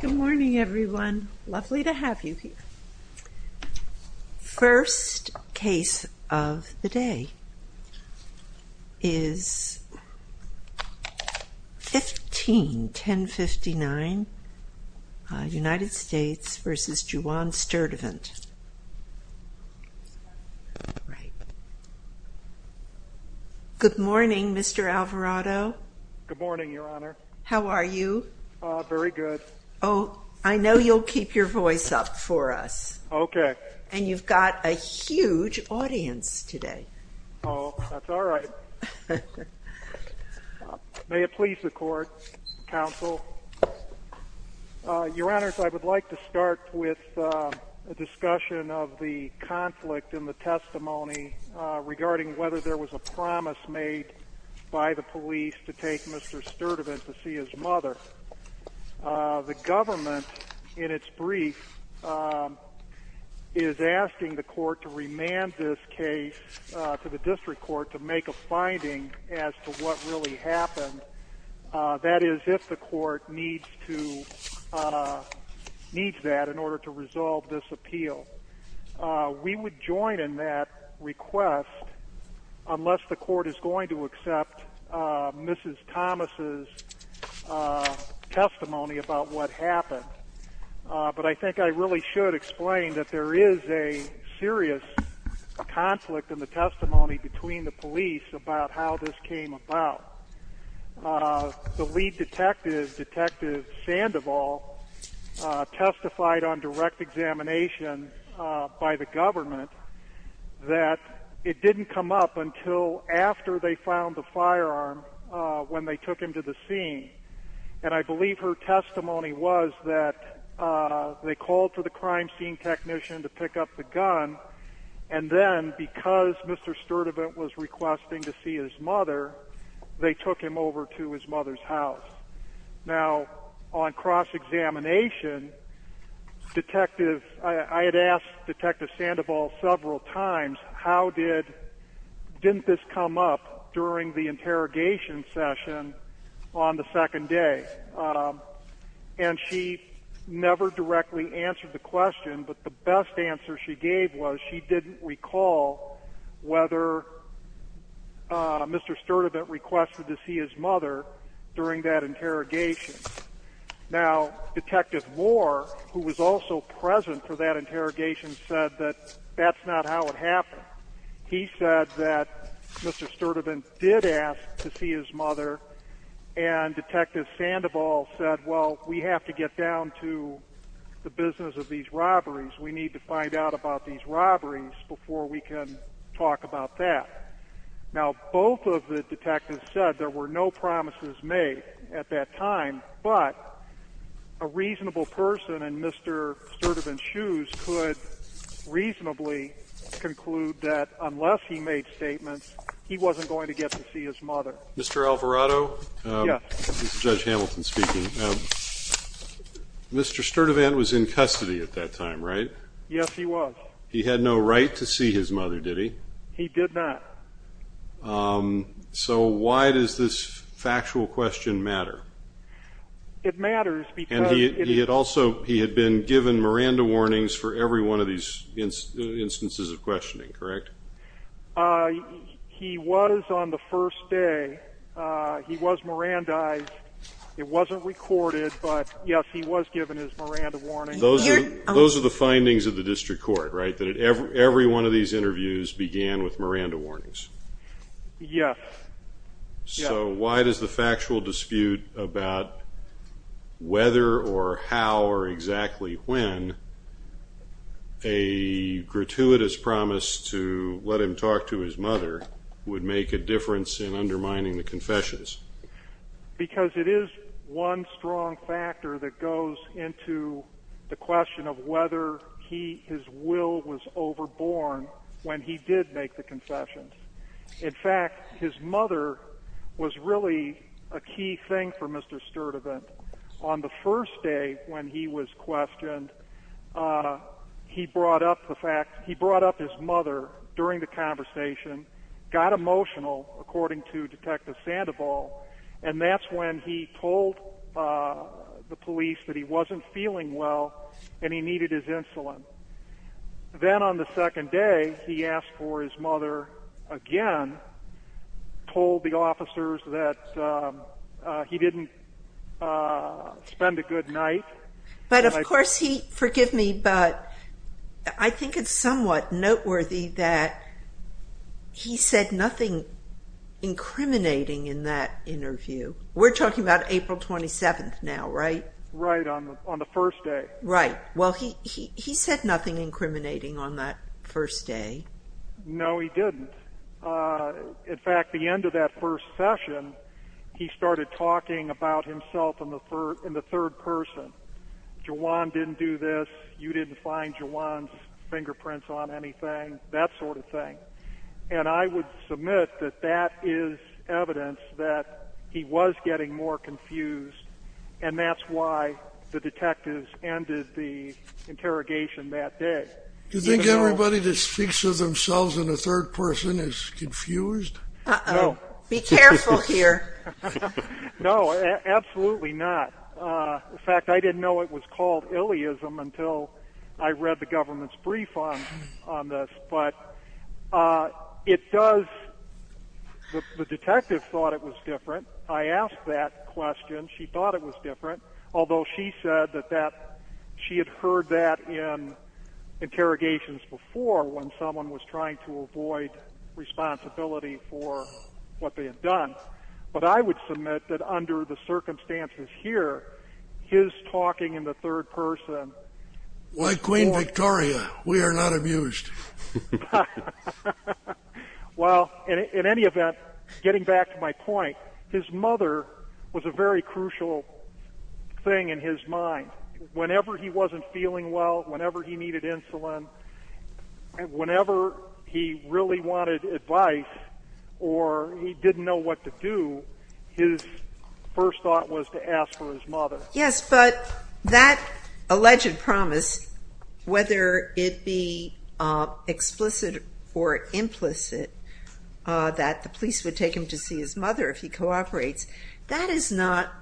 Good morning everyone. Lovely to have you here. First case of the day is 15-1059 United States v. Juwan Sturdivant. Good morning Mr. Alvarado. Good morning Your Honor. How are you? Very good. Oh, I know you'll keep your voice up for us. Okay. And you've got a huge audience today. Oh, that's all right. May it please the Court, Counsel. Your Honors, I would like to start with a discussion of the conflict in the testimony regarding whether there was a promise made by the police to take Mr. Sturdivant to see his mother. The government, in its brief, is asking the Court to remand this case to the District Court to make a finding as to what really happened. That is, if the Court needs that in order to resolve this appeal. We would join in that request unless the Court is going to accept Mrs. Thomas' testimony about what happened. But I think I really should explain that there is a serious conflict in the testimony between the police about how this came about. The lead detective, Detective Sandoval, testified on direct examination by the government that it didn't come up until after they found the firearm when they took him to the scene. And I believe her testimony was that they called for the crime scene technician to pick up the gun. And then, because Mr. Sturdivant was requesting to see his mother, they took him over to his mother's house. Now, on cross-examination, I had asked Detective Sandoval several times, didn't this come up during the interrogation session on the second day? And she never directly answered the question. But the best answer she gave was she didn't recall whether Mr. Sturdivant requested to see his mother during that interrogation. Now, Detective Moore, who was also present for that interrogation, said that that's not how it happened. He said that Mr. Sturdivant did ask to see his mother, and Detective Sandoval said, well, we have to get down to the business of these robberies. We need to find out about these robberies before we can talk about that. Now, both of the detectives said there were no promises made at that time, but a reasonable person in Mr. Sturdivant's shoes could reasonably conclude that unless he made statements, he wasn't going to get to see his mother. Mr. Alvarado? Yes. This is Judge Hamilton speaking. Mr. Sturdivant was in custody at that time, right? Yes, he was. He had no right to see his mother, did he? He did not. So why does this factual question matter? It matters because it is- He was on the first day. He was Mirandized. It wasn't recorded, but yes, he was given his Miranda Warnings. Those are the findings of the District Court, right? That every one of these interviews began with Miranda Warnings? Yes. So why does the factual dispute about whether or how or exactly when a gratuitous promise to let him talk to his mother would make a difference in undermining the confessions? Because it is one strong factor that goes into the question of whether his will was overborne when he did make the confessions. In fact, his mother was really a key thing for Mr. Sturdivant. On the first day when he was questioned, he brought up his mother during the conversation, got emotional, according to Detective Sandoval, and that's when he told the police that he wasn't feeling well and he needed his insulin. Then on the second day, he asked for his mother again, told the officers that he didn't spend a good night. But of course he- Forgive me, but I think it's somewhat noteworthy that he said nothing incriminating in that interview. We're talking about April 27th now, right? Right, on the first day. Right. Well, he said nothing incriminating on that first day. No, he didn't. In fact, the end of that first session, he started talking about himself in the third person. Jawan didn't do this, you didn't find Jawan's fingerprints on anything, that sort of thing. And I would submit that that is evidence that he was getting more confused, and that's why the detectives ended the interrogation that day. Do you think everybody that speaks of themselves in the third person is confused? Uh-oh. Be careful here. No, absolutely not. In fact, I didn't know it was called illeism until I read the government's brief on this, but it does- The detective thought it was different. I asked that question, she thought it was different, although she said that she had heard that in interrogations before when someone was trying to avoid responsibility for what they had done. But I would submit that under the circumstances here, his talking in the third person- Like Queen Victoria, we are not amused. Well, in any event, getting back to my point, his mother was a very crucial thing in his mind. Whenever he wasn't feeling well, whenever he needed insulin, whenever he really wanted advice or he didn't know what to do, his first thought was to ask for his mother. Yes, but that alleged promise, whether it be explicit or implicit, that the police would take him to see his mother if he cooperates, that is not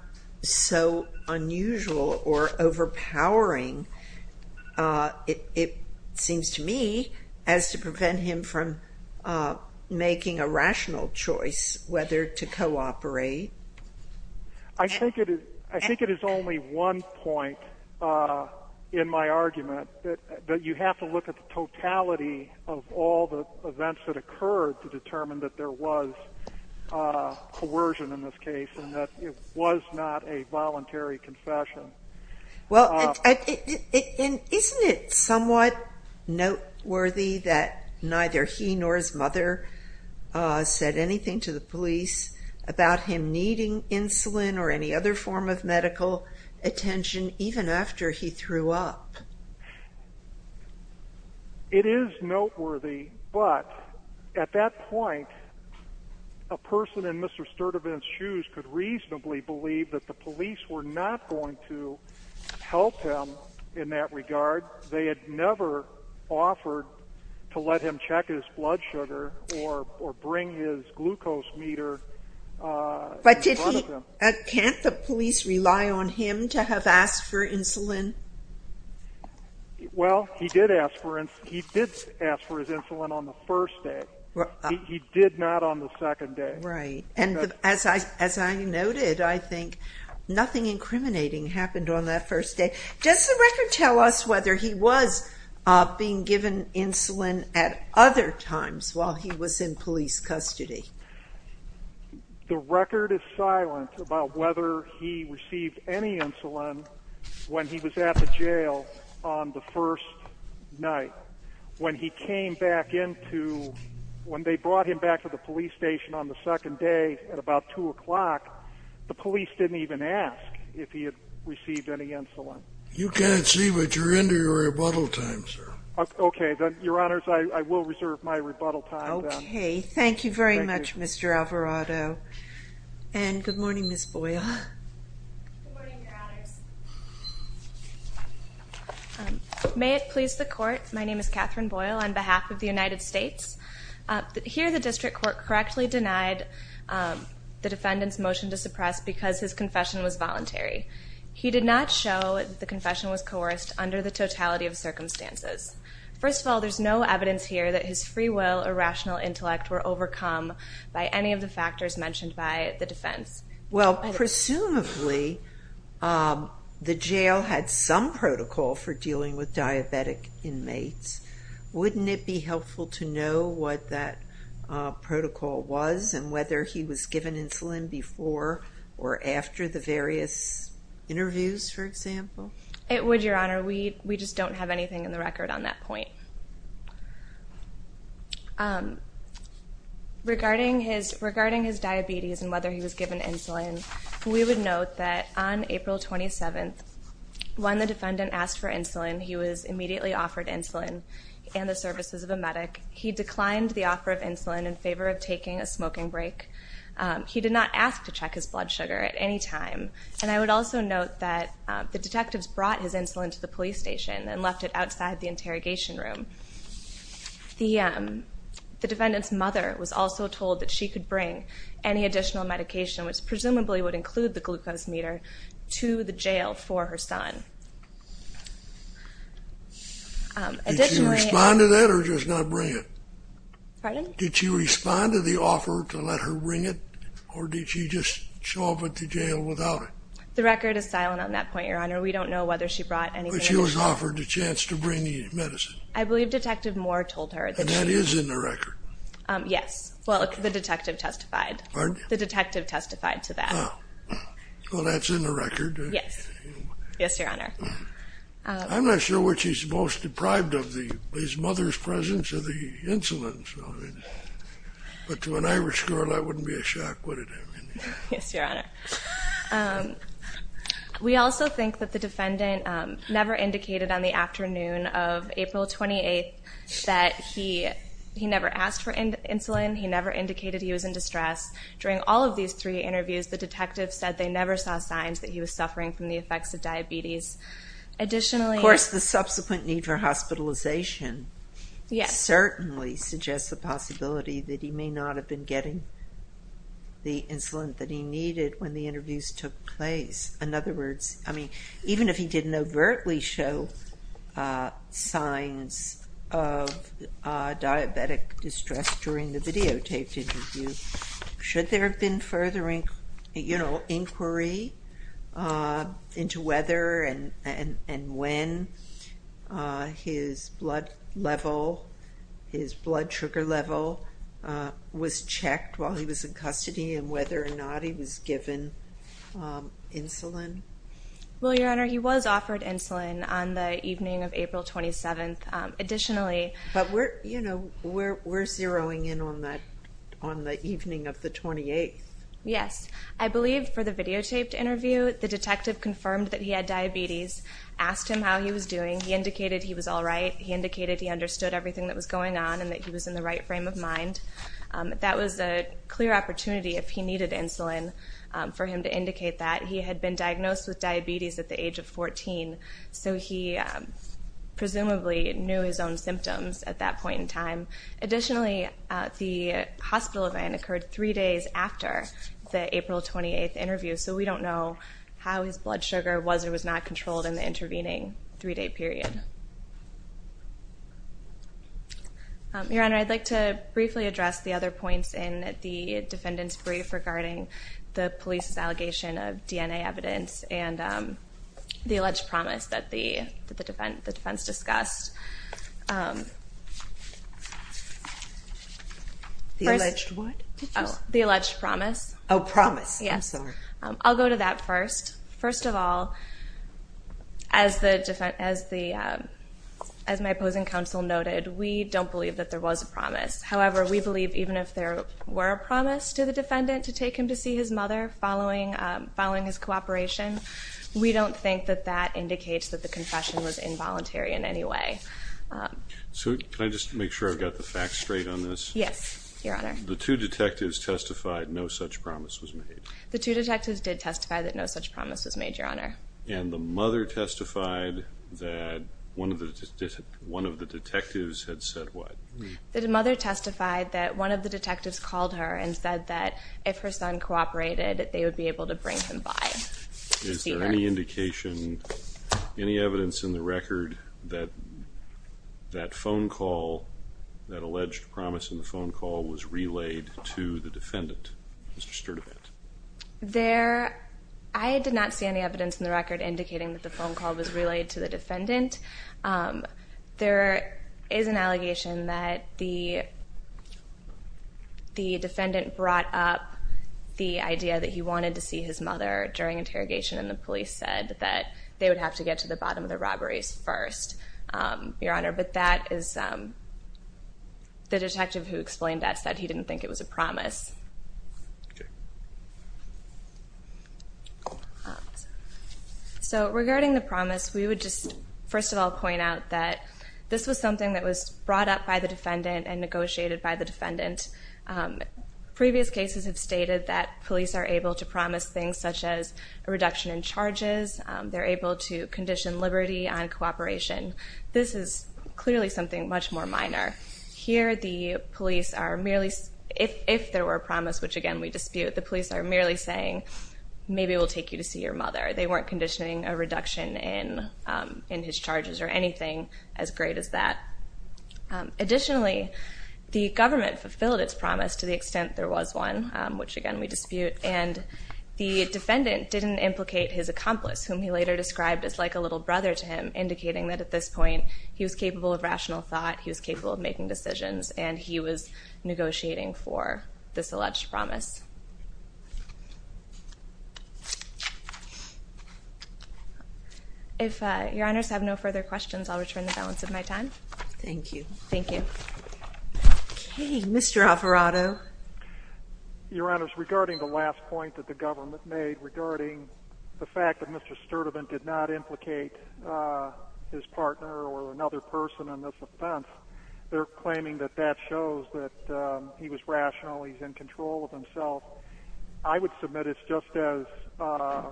so unusual or overpowering, it seems to me, as to prevent him from making a rational choice whether to cooperate. I think it is only one point in my argument, that you have to look at the totality of all the events that occurred to determine that there was coercion in this case and that it was not a voluntary confession. Well, isn't it somewhat noteworthy that neither he nor his mother said anything to the police about him needing insulin or any other form of medical attention even after he threw up? It is noteworthy, but at that point, a person in Mr. Sturtevant's shoes could reasonably believe that the police were not going to help him in that regard. They had never offered to let him check his blood sugar or bring his glucose meter. But can't the police rely on him to have asked for insulin? Well, he did ask for his insulin on the first day. He did not on the second day. Right. And as I noted, I think nothing incriminating happened on that first day. Does the record tell us whether he was being given insulin at other times while he was in police custody? The record is silent about whether he received any insulin when he was at the jail on the first night. When they brought him back to the police station on the second day at about 2 o'clock, the You can't see, but you're into your rebuttal time, sir. OK. Your Honors, I will reserve my rebuttal time. OK. Thank you very much, Mr. Alvarado. And good morning, Ms. Boyle. Good morning, Your Honors. May it please the Court, my name is Catherine Boyle on behalf of the United States. Here, the district court correctly denied the defendant's motion to suppress because his confession was voluntary. He did not show that the confession was coerced under the totality of circumstances. First of all, there's no evidence here that his free will or rational intellect were overcome by any of the factors mentioned by the defense. Well, presumably, the jail had some protocol for dealing with diabetic inmates. Wouldn't it be helpful to know what that protocol was and whether he was given insulin before or after the various interviews, for example? It would, Your Honor. We just don't have anything in the record on that point. Regarding his diabetes and whether he was given insulin, we would note that on April 27th, when the defendant asked for insulin, he was immediately offered insulin and the services of a medic. He declined the offer of insulin in favor of taking a smoking break. He did not ask to check his blood sugar at any time. And I would also note that the detectives brought his insulin to the police station and left it outside the interrogation room. The defendant's mother was also told that she could bring any additional medication, which presumably would include the glucose meter, to the jail for her son. Did she respond to that or just not bring it? Pardon? Did she respond to the offer to let her bring it? Or did she just show up at the jail without it? The record is silent on that point, Your Honor. We don't know whether she brought anything. But she was offered the chance to bring the medicine? I believe Detective Moore told her. And that is in the record? Yes. Well, the detective testified. Pardon? The detective testified to that. Oh. Well, that's in the record, right? Yes. Yes, Your Honor. I'm not sure what she's most deprived of, his mother's presence or the insulin. But to an Irish girl, that wouldn't be a shock, would it? Yes, Your Honor. We also think that the defendant never indicated on the afternoon of April 28th that he never asked for insulin. He never indicated he was in distress. During all of these three interviews, the detective said they never saw signs that he was suffering from the effects of diabetes. Additionally... Of course, the subsequent need for hospitalization... Yes. ...certainly suggests the possibility that he may not have been getting the insulin that he needed when the interviews took place. In other words, I mean, even if he didn't overtly show signs of diabetic distress during the videotaped interview, should there have been further inquiry into whether and when his blood level, his blood sugar level, was checked while he was in custody and whether or not he was given insulin? Well, Your Honor, he was offered insulin on the evening of April 27th. Additionally... But we're zeroing in on the evening of the 28th. Yes. I believe for the videotaped interview, the detective confirmed that he had diabetes, asked him how he was doing. He indicated he was all right. He indicated he understood everything that was going on and that he was in the right frame of mind. That was a clear opportunity if he needed insulin for him to indicate that. He had been diagnosed with diabetes at the age of 14, so he presumably knew his own symptoms at that point in time. Additionally, the hospital event occurred three days after the April 28th interview, so we don't know how his blood sugar was or was not controlled in the intervening three-day period. Your Honor, I'd like to briefly address the other points in the defendant's brief regarding the police's allegation of DNA evidence and the alleged promise that the defense discussed. The alleged what? The alleged promise. Oh, promise. Yes. I'll go to that first. First of all, as my opposing counsel noted, we don't believe that there was a promise. However, we believe even if there were a promise to the defendant to take him to see his mother following his cooperation, we don't think that that indicates that the confession was involuntary in any way. So can I just make sure I've got the facts straight on this? Yes, Your Honor. The two detectives testified no such promise was made. The two detectives did testify that no such promise was made, Your Honor. And the mother testified that one of the detectives had said what? The mother testified that one of the detectives called her and said that if her son cooperated, they would be able to bring him by to see her. Is there any indication, any evidence in the record that that phone call, that alleged promise in the phone call was relayed to the defendant, Mr. Sturdivant? There, I did not see any evidence in the record indicating that the phone call was relayed to the defendant. There is an allegation that the defendant brought up the idea that he wanted to see his mother during interrogation, and the police said that they would have to get to the bottom of the robberies first, Your Honor. But that is, the detective who explained that said he didn't think it was a promise. Okay. So regarding the promise, we would just first of all point out that this was something that was brought up by the defendant and negotiated by the defendant. Previous cases have stated that police are able to promise things such as a reduction in charges. They're able to condition liberty on cooperation. This is clearly something much more minor. Here, the police are merely, if there were a promise, which again we dispute, the police are merely saying, maybe we'll take you to see your mother. They weren't conditioning a reduction in his charges or anything as great as that. Additionally, the government fulfilled its promise to the extent there was one, which again we dispute. And the defendant didn't implicate his accomplice, whom he later described as like a little brother to him, indicating that at this point he was capable of rational thought, he was capable of making decisions, and he was negotiating for this alleged promise. If your honors have no further questions, I'll return the balance of my time. Thank you. Thank you. Okay, Mr. Alvarado. Your honors, regarding the last point that the government made regarding the fact that Mr. Sturdivant did not implicate his partner or another person in this offense, they're claiming that that shows that he was rational, he's in control of himself. I would submit it's just as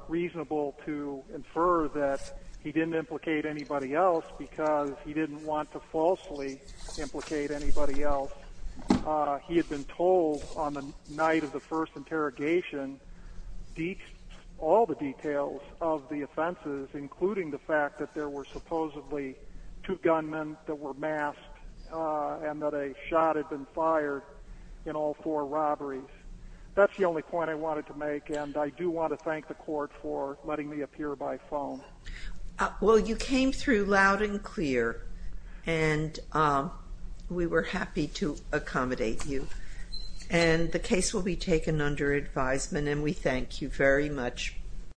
reasonable to infer that he didn't implicate anybody else because he didn't want to falsely implicate anybody else. He had been told on the night of the first interrogation all the details of the offenses, including the fact that there were supposedly two gunmen that were masked and that a shot had been fired in all four robberies. That's the only point I wanted to make, and I do want to thank the court for letting me appear by phone. Well, you came through loud and clear, and we were happy to accommodate you. And the case will be taken under advisement, and we thank you very much.